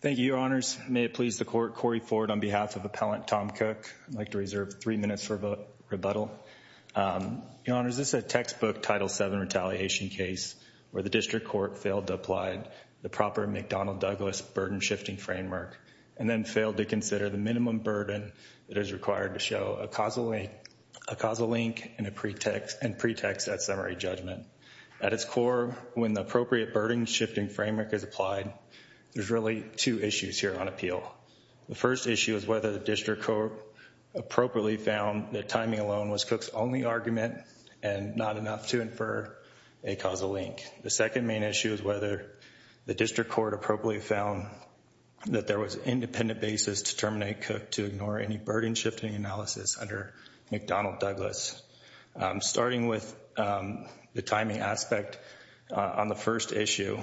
Thank you, Your Honors. May it please the Court, Corey Ford on behalf of Appellant Tom Cook, I'd like to reserve three minutes for rebuttal. Your Honors, this is a textbook Title VII retaliation case where the District Court failed to apply the proper McDonnell-Douglas burden-shifting framework, and then failed to consider the minimum burden that is required to show a causal link and pretext at summary judgment. At its core, when the appropriate burden-shifting framework is applied, there's really two issues here on appeal. The first issue is whether the District Court appropriately found that timing alone was Cook's only argument and not enough to infer a causal link. The second main issue is whether the District Court appropriately found that there was an independent basis to terminate Cook to ignore any burden-shifting analysis under McDonnell-Douglas. Starting with the timing aspect on the first issue,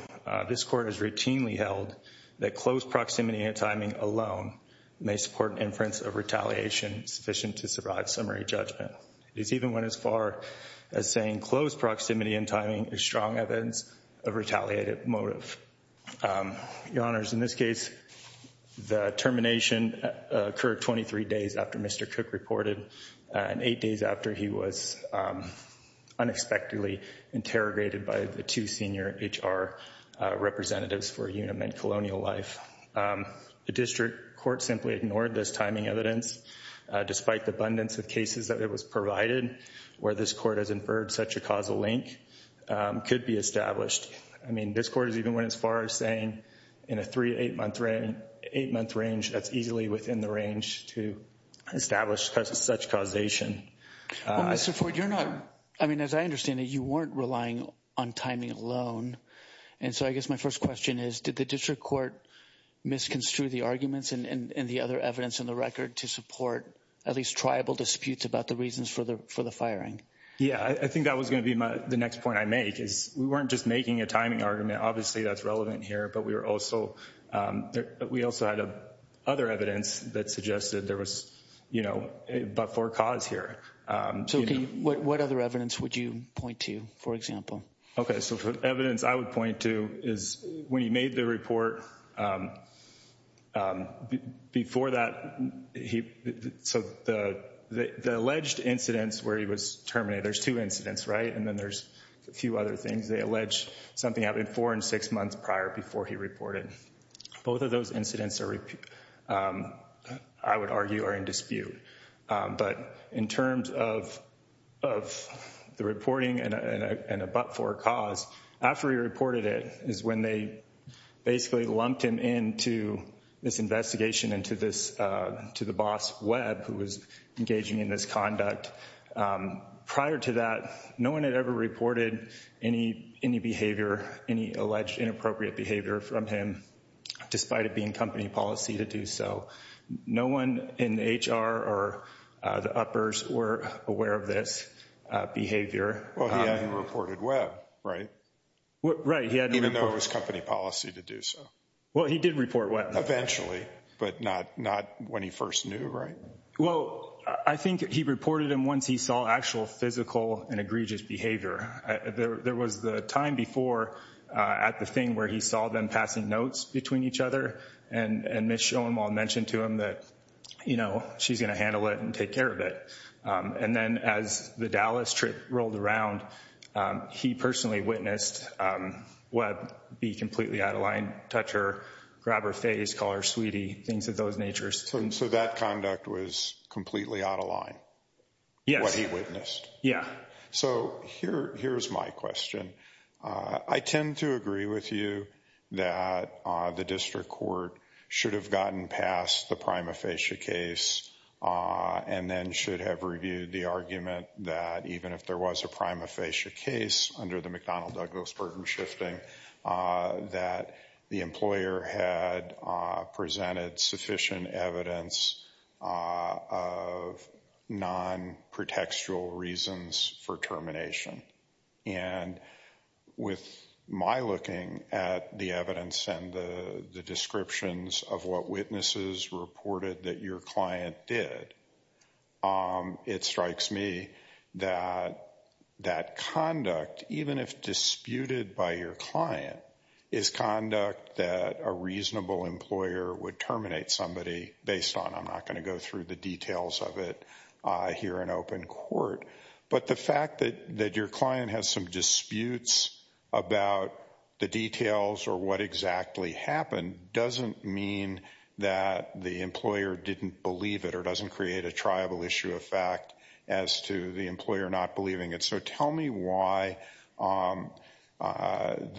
this Court has routinely held that close proximity and timing alone may support an inference of retaliation sufficient to survive summary judgment. It's even went as far as saying close proximity and timing is strong evidence of retaliated motive. Your Honors, in this case, the termination occurred 23 days after Mr. Cook reported, and eight days after he was unexpectedly interrogated by the two senior HR representatives for Uniment Colonial Life. The District Court simply ignored this timing evidence, despite the abundance of cases that it was provided where this Court has inferred such a causal link could be established. I mean, this Court has even went as far as saying in a three to eight-month range, that's easily within the range to establish such causation. Well, Mr. Ford, you're not, I mean, as I understand it, you weren't relying on timing alone. And so I guess my first question is, did the District Court misconstrue the arguments and the other evidence in the record to support at least tribal disputes about the reasons for the firing? Yeah, I think that was going to be the next point I make is we weren't just making a timing argument. Obviously, that's relevant here. But we were also, we also had other evidence that suggested there was, you know, but for cause here. So what other evidence would you point to, for example? Okay, so for evidence I would point to is when he made the report, before that, so the alleged incidents where he was terminated, there's two incidents, right? And then there's a few other things. They allege something happened four and six months prior before he reported. Both of those incidents are, I would argue, are in dispute. But in terms of the reporting and a but-for cause, after he reported it is when they basically lumped him into this investigation and to the boss, Webb, who was engaging in this conduct. Prior to that, no one had ever reported any behavior, any alleged inappropriate behavior from him, despite it being company policy to do so. No one in the HR or the uppers were aware of this behavior. Well, he hadn't reported Webb, right? Right. Even though it was company policy to do so. Well, he did report Webb. Eventually, but not when he first knew, right? Well, I think he reported him once he saw actual physical and egregious behavior. There was the time before at the thing where he saw them passing notes between each other and Ms. Schoenwald mentioned to him that, you know, she's going to handle it and take care of it. And then as the Dallas trip rolled around, he personally witnessed Webb be completely out of line, touch her, grab her face, call her sweetie, things of those natures. So that conduct was completely out of line? Yes. What he witnessed? Yeah. So here's my question. I tend to agree with you that the district court should have gotten past the prima facie case and then should have reviewed the argument that even if there was a prima facie case under the McDonnell Douglas burden shifting, that the employer had presented sufficient evidence of non-protextual reasons for termination. And with my looking at the evidence and the descriptions of what witnesses reported that your client did, it strikes me that that conduct, even if disputed by your client, is conduct that a reasonable employer would terminate somebody based on. I'm not going to go through the details of it here in open court. But the fact that your client has some disputes about the details or what exactly happened doesn't mean that the employer didn't believe it or doesn't create a triable issue of fact as to the employer not believing it. So tell me why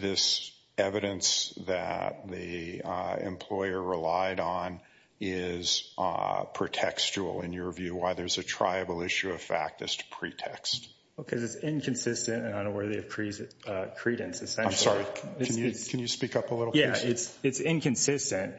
this evidence that the employer relied on is protextual in your view, why there's a triable issue of fact as to pretext? Because it's inconsistent and unworthy of credence. I'm sorry. Can you speak up a little bit? Yeah. It's inconsistent.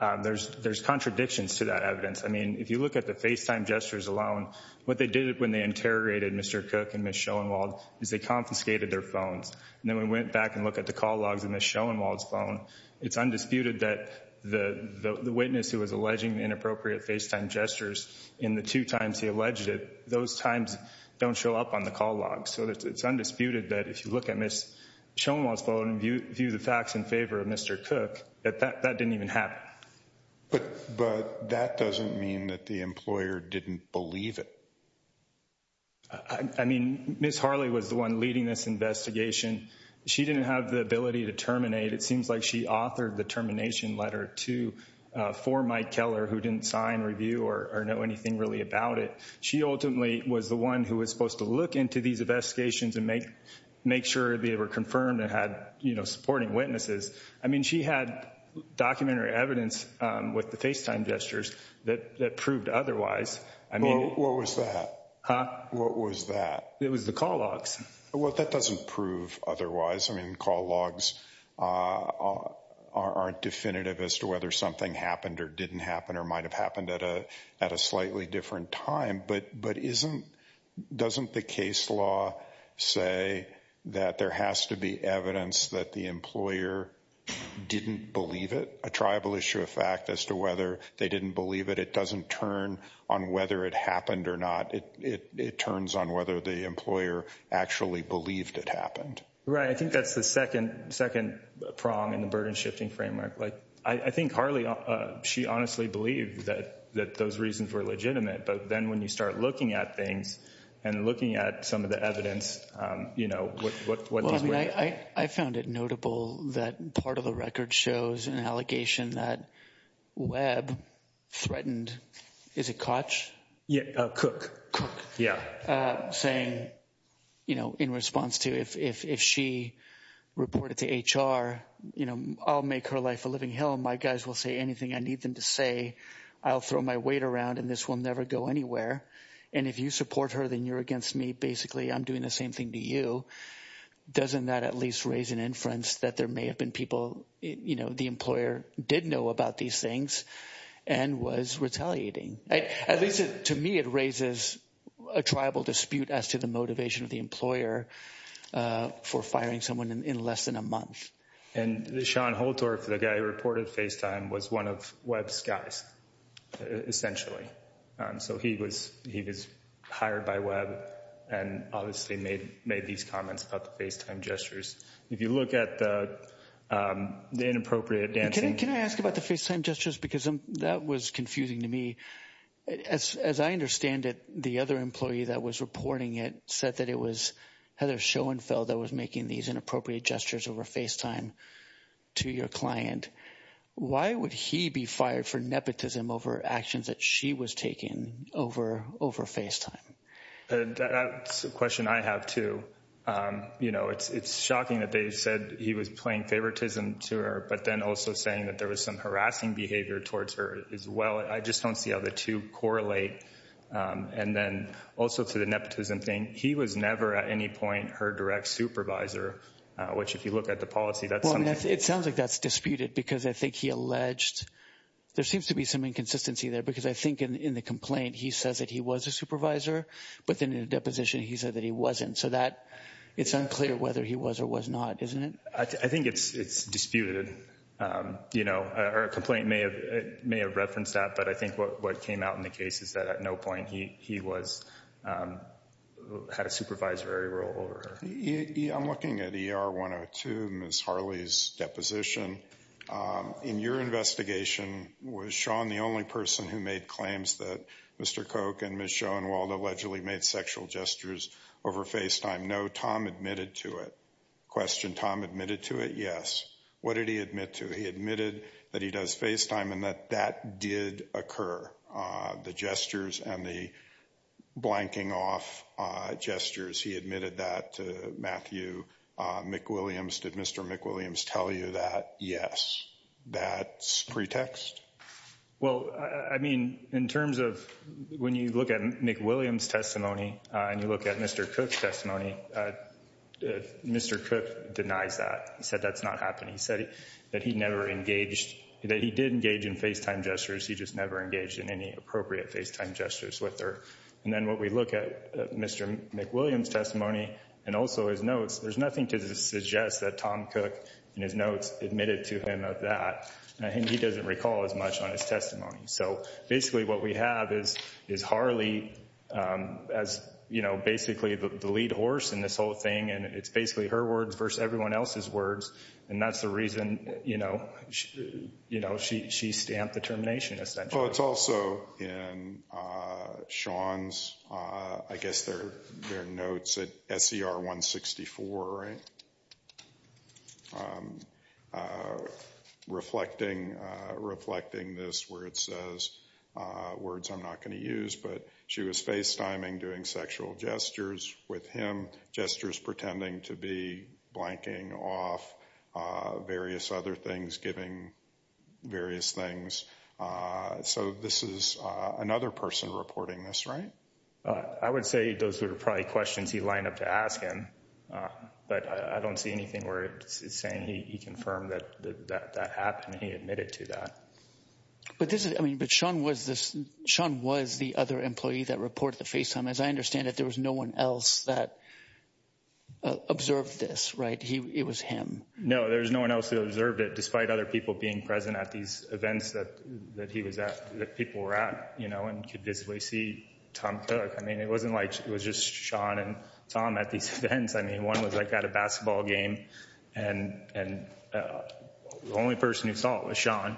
And there's contradictions to that evidence. I mean, if you look at the FaceTime gestures alone, what they did when they interrogated Mr. Cook and Ms. Schoenwald is they confiscated their phones. And then we went back and looked at the call logs on Ms. Schoenwald's phone. It's undisputed that the witness who was alleging inappropriate FaceTime gestures in the two times he alleged it, those times don't show up on the call logs. So it's undisputed that if you look at Ms. Schoenwald's phone and view the facts in favor of Mr. Cook, that that didn't even happen. But that doesn't mean that the employer didn't believe it. I mean, Ms. Harley was the one leading this investigation. She didn't have the ability to terminate. It seems like she authored the termination letter too for Mike Keller, who didn't sign, review, or know anything really about it. She ultimately was the one who was supposed to look into these investigations and make sure they were confirmed and had supporting witnesses. I mean, she had documentary evidence with the FaceTime gestures that proved otherwise. I mean. What was that? Huh? What was that? It was the call logs. Well, that doesn't prove otherwise. I mean, call logs aren't definitive as to whether something happened or didn't happen or might have happened at a slightly different time. But doesn't the case law say that there has to be evidence that the employer didn't believe it? A triable issue of fact as to whether they didn't believe it. It doesn't turn on whether it happened or not. It turns on whether the employer actually believed it happened. Right. I think that's the second prong in the burden shifting framework. Like, I think Harley, she honestly believed that those reasons were legitimate. But then when you start looking at things and looking at some of the evidence, you know. I found it notable that part of the record shows an allegation that Webb threatened, is it Koch? Yeah, Cook. Yeah. Saying, you know, in response to if she reported to HR, you know, I'll make her life a living hell and my guys will say anything I need them to say. I'll throw my weight around and this will never go anywhere. And if you support her, then you're against me. Basically, I'm doing the same thing to you. Doesn't that at least raise an inference that there may have been people, you know, the employer did know about these things and was retaliating? At least to me, it raises a tribal dispute as to the motivation of the employer for firing someone in less than a month. And Sean Holtorf, the guy who reported FaceTime, was one of Webb's guys, essentially. So he was hired by Webb and obviously made these comments about the FaceTime gestures. If you look at the inappropriate dancing. Can I ask about the FaceTime gestures, because that was confusing to me. As I understand it, the other employee that was reporting it said that it was Heather Schoenfeld that was making these inappropriate gestures over FaceTime to your client. Why would he be fired for nepotism over actions that she was taking over FaceTime? That's a question I have, too. You know, it's shocking that they said he was playing favoritism to her, but then also saying that there was some harassing behavior towards her as well. I just don't see how the two correlate. And then also to the nepotism thing. He was never at any point her direct supervisor, which if you look at the policy, that's something. It sounds like that's disputed because I think he alleged. There seems to be some inconsistency there because I think in the complaint, he says that he was a supervisor. But then in the deposition, he said that he wasn't. So it's unclear whether he was or was not, isn't it? I think it's disputed. You know, our complaint may have referenced that. But I think what came out in the case is that at no point he had a supervisory role over her. I'm looking at ER 102, Ms. Harley's deposition. In your investigation, was Sean the only person who made claims that Mr. Koch and Ms. Schoenwald allegedly made sexual gestures over FaceTime? No, Tom admitted to it. Question, Tom admitted to it? Yes. What did he admit to? He admitted that he does FaceTime and that that did occur. The gestures and the blanking off gestures. He admitted that to Matthew McWilliams. Did Mr. McWilliams tell you that? Yes. That's pretext? Well, I mean, in terms of when you look at McWilliams' testimony and you look at Mr. Koch's testimony, Mr. Koch denies that. He said that's not happening. He said that he never engaged, that he did engage in FaceTime gestures. He just never engaged in any appropriate FaceTime gestures with her. And then when we look at Mr. McWilliams' testimony and also his notes, there's nothing to suggest that Tom Koch in his notes admitted to him of that. And he doesn't recall as much on his testimony. So basically what we have is Harley as, you know, basically the lead horse in this whole thing. And it's basically her words versus everyone else's words. And that's the reason, you know, she stamped the termination, essentially. Well, it's also in Sean's, I guess, their notes at SCR 164, right? Reflecting this where it says words I'm not going to use, but she was FaceTiming, doing sexual gestures with him, gestures pretending to be blanking off various other things, giving various things. So this is another person reporting this, right? I would say those are probably questions he lined up to ask him. But I don't see anything where it's saying he confirmed that that happened. He admitted to that. But this is I mean, but Sean was the other employee that reported the FaceTime. As I understand it, there was no one else that observed this, right? It was him. No, there was no one else who observed it, despite other people being present at these events that he was at, that people were at, you know, and could visibly see Tom Cook. I mean, it wasn't like it was just Sean and Tom at these events. I mean, one was like at a basketball game, and the only person who saw it was Sean.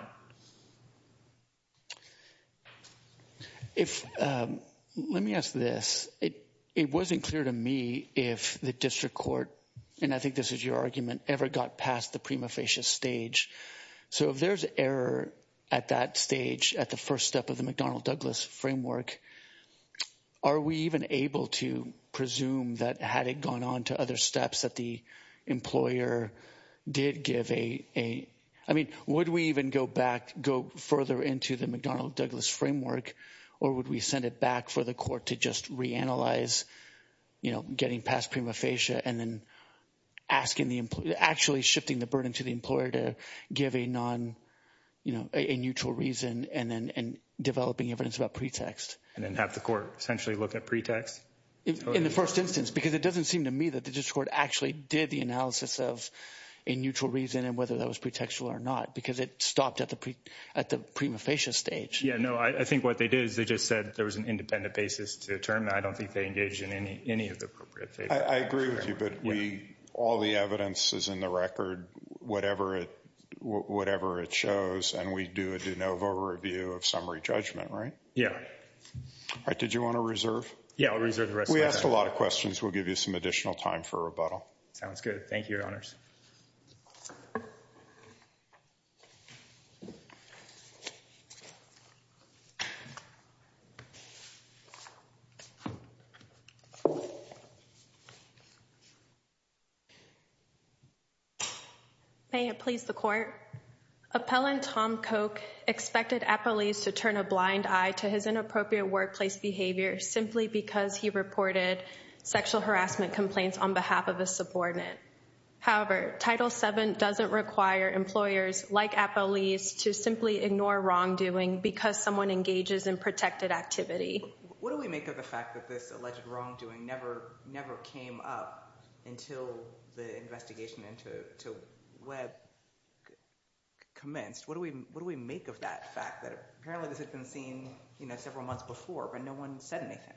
If let me ask this, it wasn't clear to me if the district court, and I think this is your argument, ever got past the prima facie stage. So if there's error at that stage at the first step of the McDonnell Douglas framework, are we even able to presume that had it gone on to other steps that the employer did give a I mean, would we even go back, go further into the McDonnell Douglas framework? Or would we send it back for the court to just reanalyze, you know, getting past prima facie and then asking the employee, actually shifting the burden to the employer to give a non, you know, a neutral reason and then developing evidence about pretext. And then have the court essentially look at pretext? In the first instance, because it doesn't seem to me that the district court actually did the analysis of a neutral reason and whether that was pretextual or not, because it stopped at the at the prima facie stage. Yeah, no, I think what they did is they just said there was an independent basis to determine. I don't think they engaged in any of the appropriate. I agree with you, but we all the evidence is in the record, whatever it whatever it shows. And we do a de novo review of summary judgment, right? Yeah. Did you want to reserve? Yeah, I'll reserve the rest. We asked a lot of questions. We'll give you some additional time for rebuttal. Sounds good. Thank you, Your Honors. May it please the court. Appellant Tom Koch expected a police to turn a blind eye to his inappropriate workplace behavior simply because he reported sexual harassment complaints on behalf of a subordinate. However, Title VII doesn't require employers like a police to simply ignore wrongdoing because someone engages in protected activity. What do we make of the fact that this alleged wrongdoing never never came up until the investigation into Webb commenced? What do we what do we make of that fact that apparently this had been seen several months before, but no one said anything?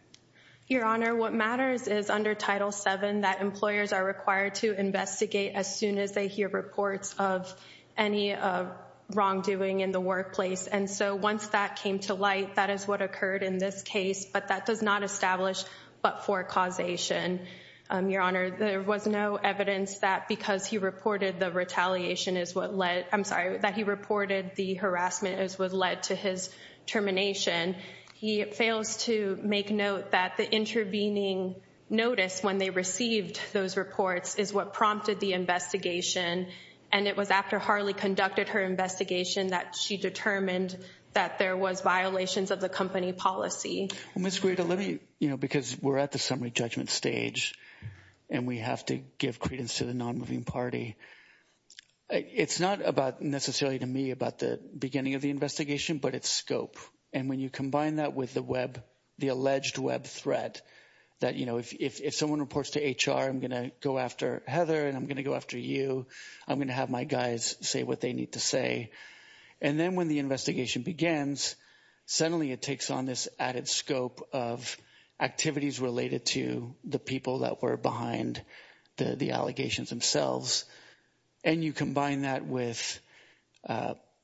Your Honor, what matters is under Title VII that employers are required to investigate as soon as they hear reports of any wrongdoing in the workplace. And so once that came to light, that is what occurred in this case, but that does not establish but for causation. Your Honor, there was no evidence that because he reported the retaliation is what led I'm sorry that he reported the harassment is what led to his termination. He fails to make note that the intervening notice when they received those reports is what prompted the investigation. And it was after Harley conducted her investigation that she determined that there was violations of the company policy. Miss Greta, let me you know, because we're at the summary judgment stage and we have to give credence to the non-moving party. It's not about necessarily to me about the beginning of the investigation, but its scope. And when you combine that with the Web, the alleged Web threat that, you know, if someone reports to H.R., I'm going to go after Heather and I'm going to go after you. I'm going to have my guys say what they need to say. And then when the investigation begins, suddenly it takes on this added scope of activities related to the people that were behind the allegations themselves. And you combine that with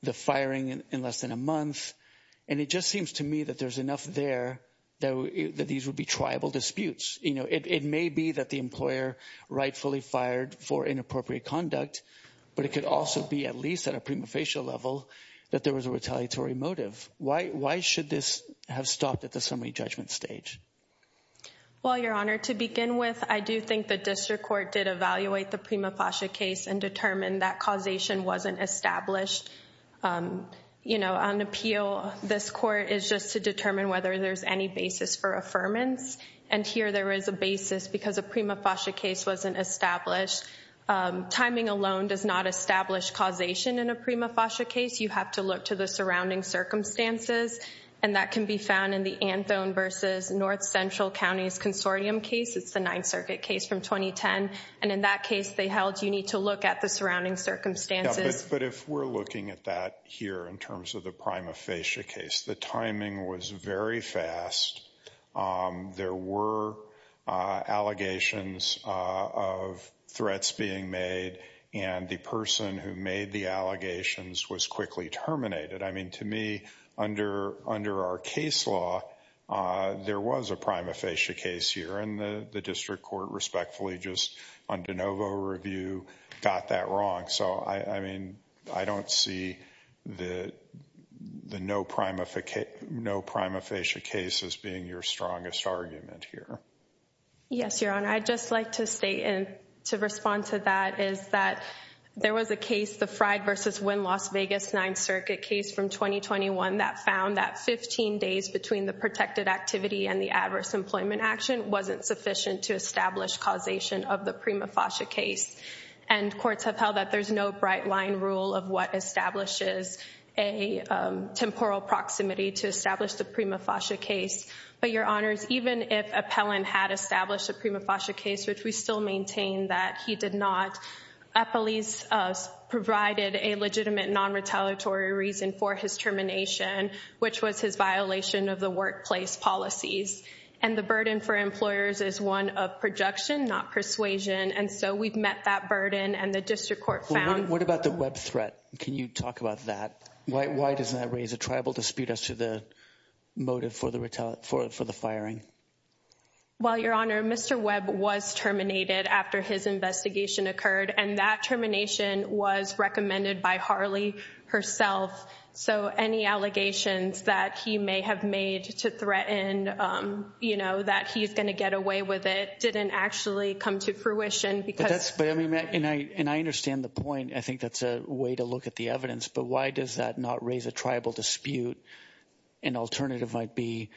the firing in less than a month. And it just seems to me that there's enough there that these would be tribal disputes. You know, it may be that the employer rightfully fired for inappropriate conduct, but it could also be at least at a prima facie level that there was a retaliatory motive. Why? Why should this have stopped at the summary judgment stage? Well, Your Honor, to begin with, I do think the district court did evaluate the prima facie case and determined that causation wasn't established. You know, on appeal, this court is just to determine whether there's any basis for affirmance. And here there is a basis because a prima facie case wasn't established. Timing alone does not establish causation in a prima facie case. You have to look to the surrounding circumstances. And that can be found in the Anthon versus North Central County's consortium case. It's the Ninth Circuit case from 2010. And in that case, they held you need to look at the surrounding circumstances. But if we're looking at that here in terms of the prima facie case, the timing was very fast. There were allegations of threats being made. And the person who made the allegations was quickly terminated. I mean, to me, under under our case law, there was a prima facie case here. And the district court, respectfully, just on de novo review, got that wrong. So, I mean, I don't see the no prima facie case as being your strongest argument here. Yes, Your Honor, I'd just like to state and to respond to that is that there was a case, the Fried versus Wynn Las Vegas Ninth Circuit case from 2021 that found that 15 days between the protected activity and the adverse employment action wasn't sufficient to establish causation of the prima facie case. And courts have held that there's no bright line rule of what establishes a temporal proximity to establish the prima facie case. But, Your Honors, even if Appellant had established a prima facie case, which we still maintain that he did not, Appellant provided a legitimate non-retaliatory reason for his termination, which was his violation of the workplace policies. And the burden for employers is one of projection, not persuasion. And so we've met that burden and the district court found. What about the Webb threat? Can you talk about that? Why doesn't that raise a tribal dispute as to the motive for the firing? Well, Your Honor, Mr. Webb was terminated after his investigation occurred and that termination was recommended by Harley herself. So any allegations that he may have made to threaten, you know, that he's going to get away with it didn't actually come to fruition because. And I understand the point. I think that's a way to look at the evidence. But why does that not raise a tribal dispute? An alternative might be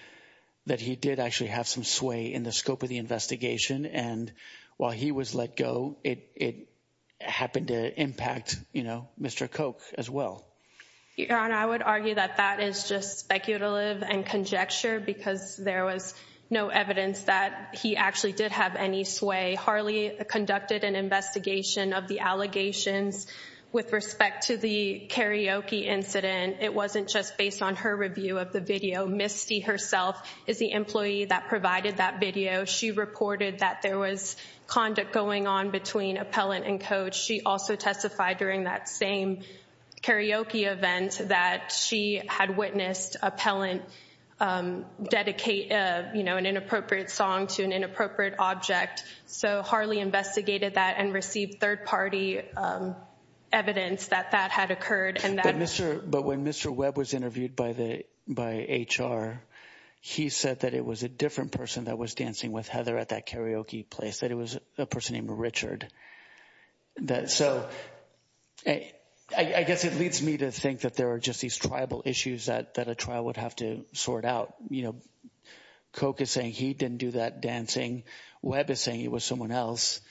that he did actually have some sway in the scope of the investigation. And while he was let go, it happened to impact, you know, Mr. Koch as well. Your Honor, I would argue that that is just speculative and conjecture because there was no evidence that he actually did have any sway. Harley conducted an investigation of the allegations with respect to the karaoke incident. It wasn't just based on her review of the video. Misty herself is the employee that provided that video. She reported that there was conduct going on between appellant and coach. She also testified during that same karaoke event that she had witnessed appellant dedicate, you know, an inappropriate song to an inappropriate object. So Harley investigated that and received third party evidence that that had occurred. But when Mr. Webb was interviewed by HR, he said that it was a different person that was dancing with Heather at that karaoke place, that it was a person named Richard. So I guess it leads me to think that there are just these tribal issues that a trial would have to sort out. You know, Coke is saying he didn't do that dancing. Webb is saying it was someone else.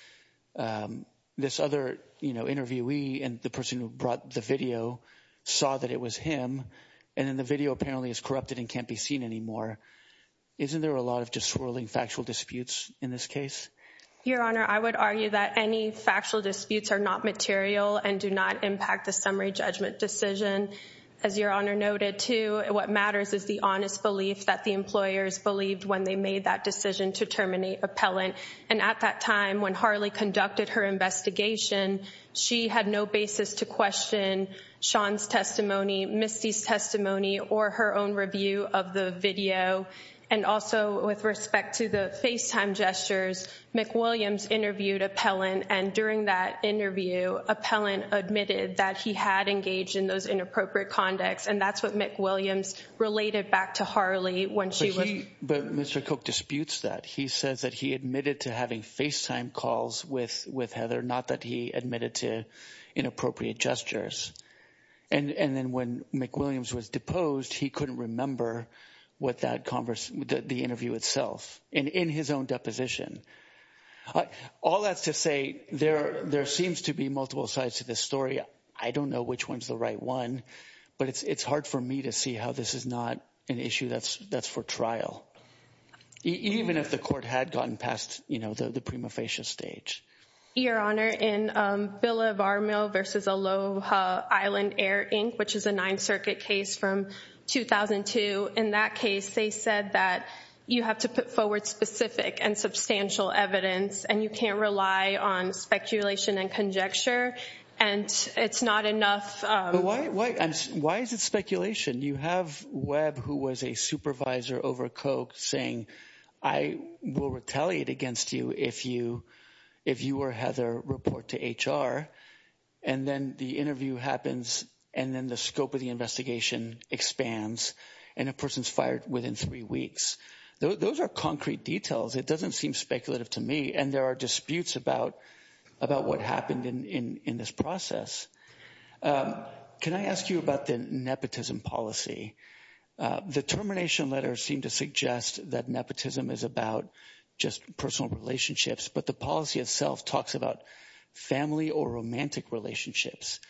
This other interviewee and the person who brought the video saw that it was him. And then the video apparently is corrupted and can't be seen anymore. Isn't there a lot of just swirling factual disputes in this case? Your Honor, I would argue that any factual disputes are not material and do not impact the summary judgment decision. As Your Honor noted, too, what matters is the honest belief that the employers believed when they made that decision to terminate appellant. And at that time, when Harley conducted her investigation, she had no basis to question Sean's testimony, Misty's testimony, or her own review of the video. And also with respect to the FaceTime gestures, McWilliams interviewed appellant and during that interview, appellant admitted that he had engaged in those inappropriate conducts. And that's what McWilliams related back to Harley when she was... But Mr. Coke disputes that. He says that he admitted to having FaceTime calls with Heather, not that he admitted to inappropriate gestures. And then when McWilliams was deposed, he couldn't remember what that conversation, the interview itself and in his own deposition. All that's to say there seems to be multiple sides to this story. I don't know which one's the right one, but it's hard for me to see how this is not an issue that's for trial. Even if the court had gotten past the prima facie stage. Your Honor, in Billa Varmil versus Aloha Island Air Inc., which is a Ninth Circuit case from 2002. In that case, they said that you have to put forward specific and substantial evidence and you can't rely on speculation and conjecture. And it's not enough. Why is it speculation? You have Webb, who was a supervisor over Coke, saying, I will retaliate against you if you or Heather report to HR. And then the interview happens and then the scope of the investigation expands and a person's fired within three weeks. Those are concrete details. It doesn't seem speculative to me. And there are disputes about what happened in this process. Can I ask you about the nepotism policy? The termination letters seem to suggest that nepotism is about just personal relationships. But the policy itself talks about family or romantic relationships.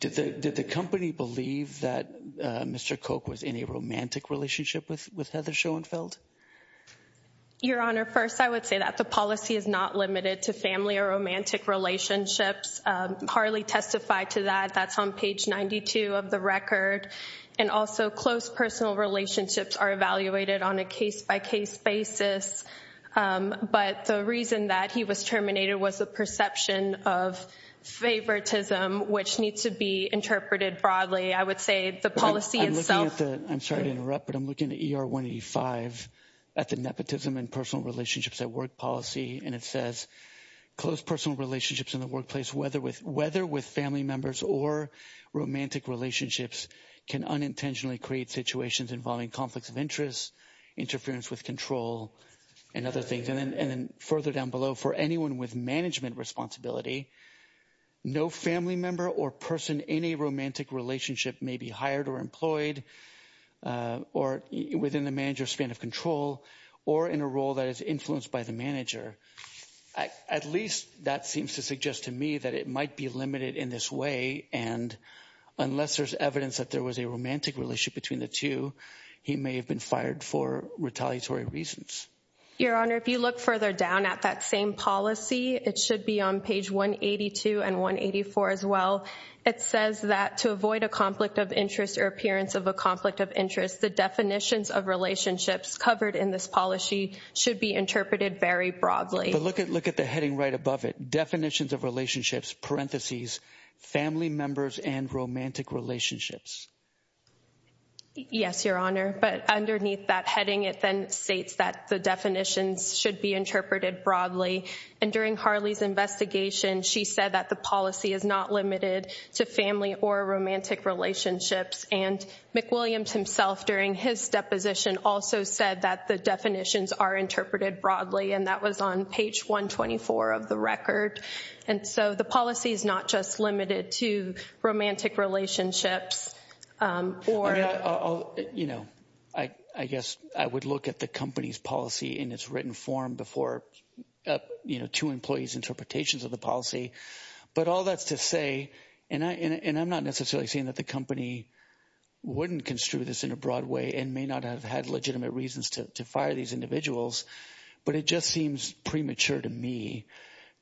Did the company believe that Mr. Coke was in a romantic relationship with Heather Schoenfeld? Your Honor, first, I would say that the policy is not limited to family or romantic relationships. Harley testified to that. That's on page 92 of the record. And also, close personal relationships are evaluated on a case-by-case basis. But the reason that he was terminated was the perception of favoritism, which needs to be interpreted broadly. I would say the policy itself — I'm looking at the — I'm sorry to interrupt, but I'm looking at ER 185 at the nepotism and personal relationships at work policy. And it says, close personal relationships in the workplace, whether with family members or romantic relationships, can unintentionally create situations involving conflicts of interest, interference with control, and other things. And then further down below, for anyone with management responsibility, no family member or person in a romantic relationship may be hired or employed or within the manager's span of control or in a role that is influenced by the manager. At least that seems to suggest to me that it might be limited in this way. And unless there's evidence that there was a romantic relationship between the two, he may have been fired for retaliatory reasons. Your Honor, if you look further down at that same policy, it should be on page 182 and 184 as well. It says that to avoid a conflict of interest or appearance of a conflict of interest, the definitions of relationships covered in this policy should be interpreted very broadly. But look at the heading right above it. Definitions of relationships, parentheses, family members and romantic relationships. Yes, Your Honor. But underneath that heading, it then states that the definitions should be interpreted broadly. And during Harley's investigation, she said that the policy is not limited to family or romantic relationships. And McWilliams himself, during his deposition, also said that the definitions are interpreted broadly. And that was on page 124 of the record. And so the policy is not just limited to romantic relationships. Your Honor, I guess I would look at the company's policy in its written form before two employees' interpretations of the policy. But all that's to say, and I'm not necessarily saying that the company wouldn't construe this in a broad way and may not have had legitimate reasons to fire these individuals, but it just seems premature to me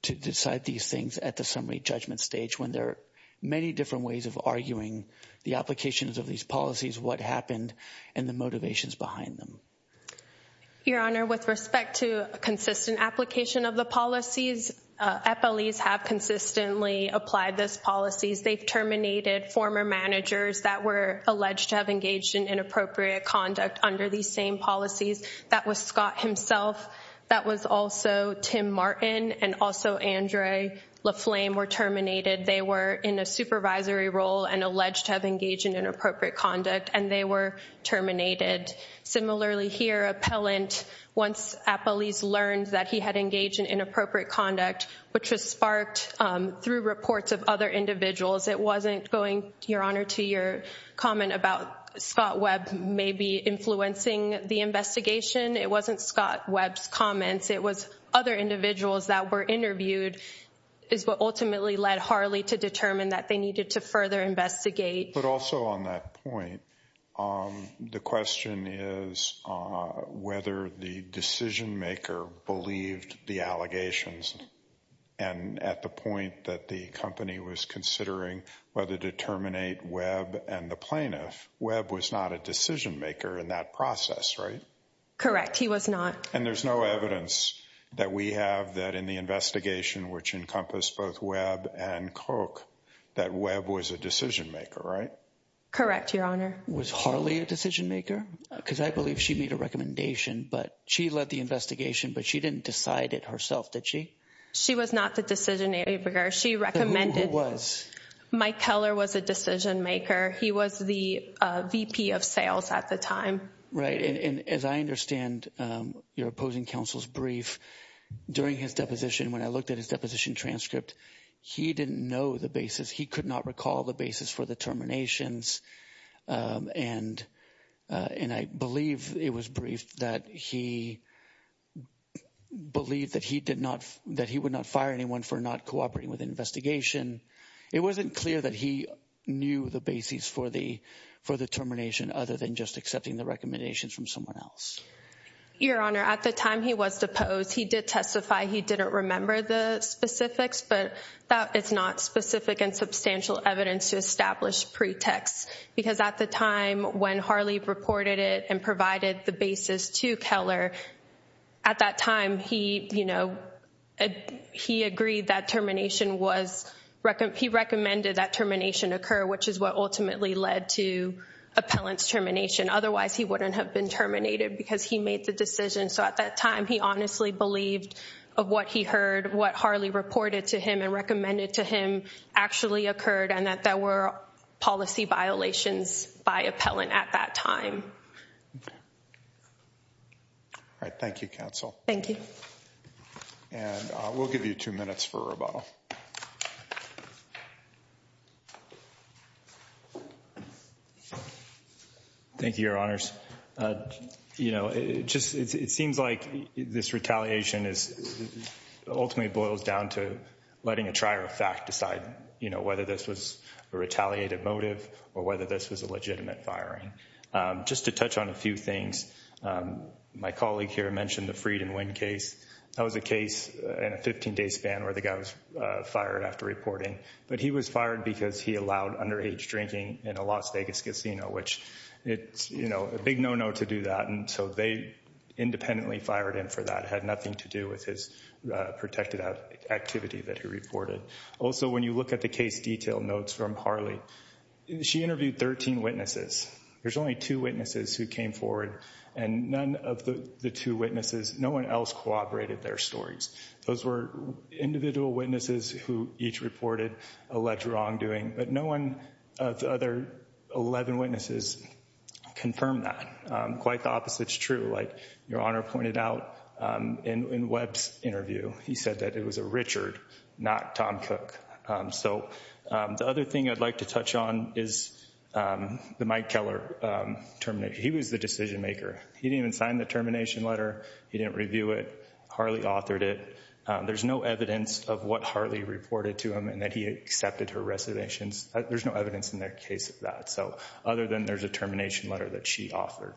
to decide these things at the summary judgment stage when there are many different ways of arguing the applications of these policies, what happened, and the motivations behind them. Your Honor, with respect to consistent application of the policies, FLEs have consistently applied those policies. They've terminated former managers that were alleged to have engaged in inappropriate conduct under these same policies. That was Scott himself. That was also Tim Martin and also Andre La Flame were terminated. They were in a supervisory role and alleged to have engaged in inappropriate conduct, and they were terminated. Similarly, here, Appellant, once at police, learned that he had engaged in inappropriate conduct, which was sparked through reports of other individuals. It wasn't going, Your Honor, to your comment about Scott Webb maybe influencing the investigation. It wasn't Scott Webb's comments. It was other individuals that were interviewed is what ultimately led Harley to determine that they needed to further investigate. But also on that point, the question is whether the decision maker believed the allegations and at the point that the company was considering whether to terminate Webb and the plaintiff, Webb was not a decision maker in that process, right? Correct. He was not. And there's no evidence that we have that in the investigation, which encompassed both Webb and Coke, that Webb was a decision maker, right? Correct, Your Honor. Was Harley a decision maker? Because I believe she made a recommendation, but she led the investigation, but she didn't decide it herself, did she? She was not the decision maker. She recommended. Who was? Mike Keller was a decision maker. He was the VP of sales at the time. Right. And as I understand your opposing counsel's brief during his deposition, when I looked at his deposition transcript, he didn't know the basis. He could not recall the basis for the terminations. And I believe it was briefed that he believed that he would not fire anyone for not cooperating with the investigation. It wasn't clear that he knew the basis for the termination other than just accepting the recommendations from someone else. Your Honor, at the time he was deposed, he did testify he didn't remember the specifics, but that is not specific and substantial evidence to establish pretexts. Because at the time when Harley reported it and provided the basis to Keller, at that time he agreed that termination was—he recommended that termination occur, which is what ultimately led to Appellant's termination. Otherwise, he wouldn't have been terminated because he made the decision. So at that time, he honestly believed of what he heard, what Harley reported to him and recommended to him actually occurred and that there were policy violations by Appellant at that time. All right. Thank you, Counsel. Thank you. And we'll give you two minutes for rebuttal. Thank you, Your Honors. You know, it seems like this retaliation ultimately boils down to letting a trier of fact decide, you know, whether this was a retaliated motive or whether this was a legitimate firing. Just to touch on a few things, my colleague here mentioned the Fried and Wynn case. That was a case in a 15-day span where the guy was fired after reporting. But he was fired because he allowed underage drinking in a Las Vegas casino, which it's, you know, a big no-no to do that. And so they independently fired him for that. It had nothing to do with his protected activity that he reported. Also, when you look at the case detail notes from Harley, she interviewed 13 witnesses. There's only two witnesses who came forward. And none of the two witnesses, no one else, cooperated their stories. Those were individual witnesses who each reported alleged wrongdoing. But no one of the other 11 witnesses confirmed that. Quite the opposite is true. Like Your Honor pointed out in Webb's interview, he said that it was a Richard, not Tom Cook. So the other thing I'd like to touch on is the Mike Keller termination. He was the decision-maker. He didn't even sign the termination letter. He didn't review it. Harley authored it. There's no evidence of what Harley reported to him and that he accepted her reservations. There's no evidence in that case of that. So other than there's a termination letter that she authored.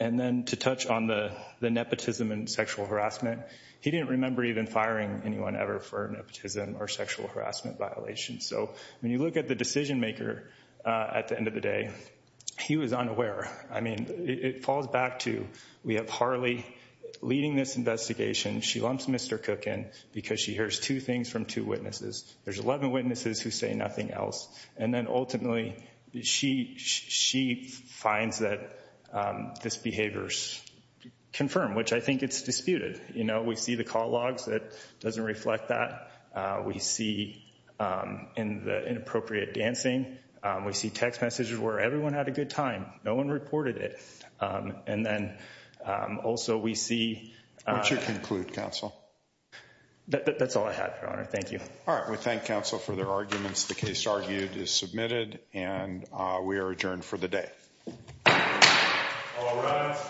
And then to touch on the nepotism and sexual harassment, he didn't remember even firing anyone ever for nepotism or sexual harassment violations. So when you look at the decision-maker at the end of the day, he was unaware. I mean, it falls back to we have Harley leading this investigation. She lumps Mr. Cook in because she hears two things from two witnesses. There's 11 witnesses who say nothing else. And then ultimately she finds that this behavior is confirmed, which I think it's disputed. We see the call logs that doesn't reflect that. We see in the inappropriate dancing. We see text messages where everyone had a good time. No one reported it. And then also we see. What's your conclude, counsel? That's all I have, Your Honor. Thank you. All right. We thank counsel for their arguments. The case argued is submitted and we are adjourned for the day. All rise.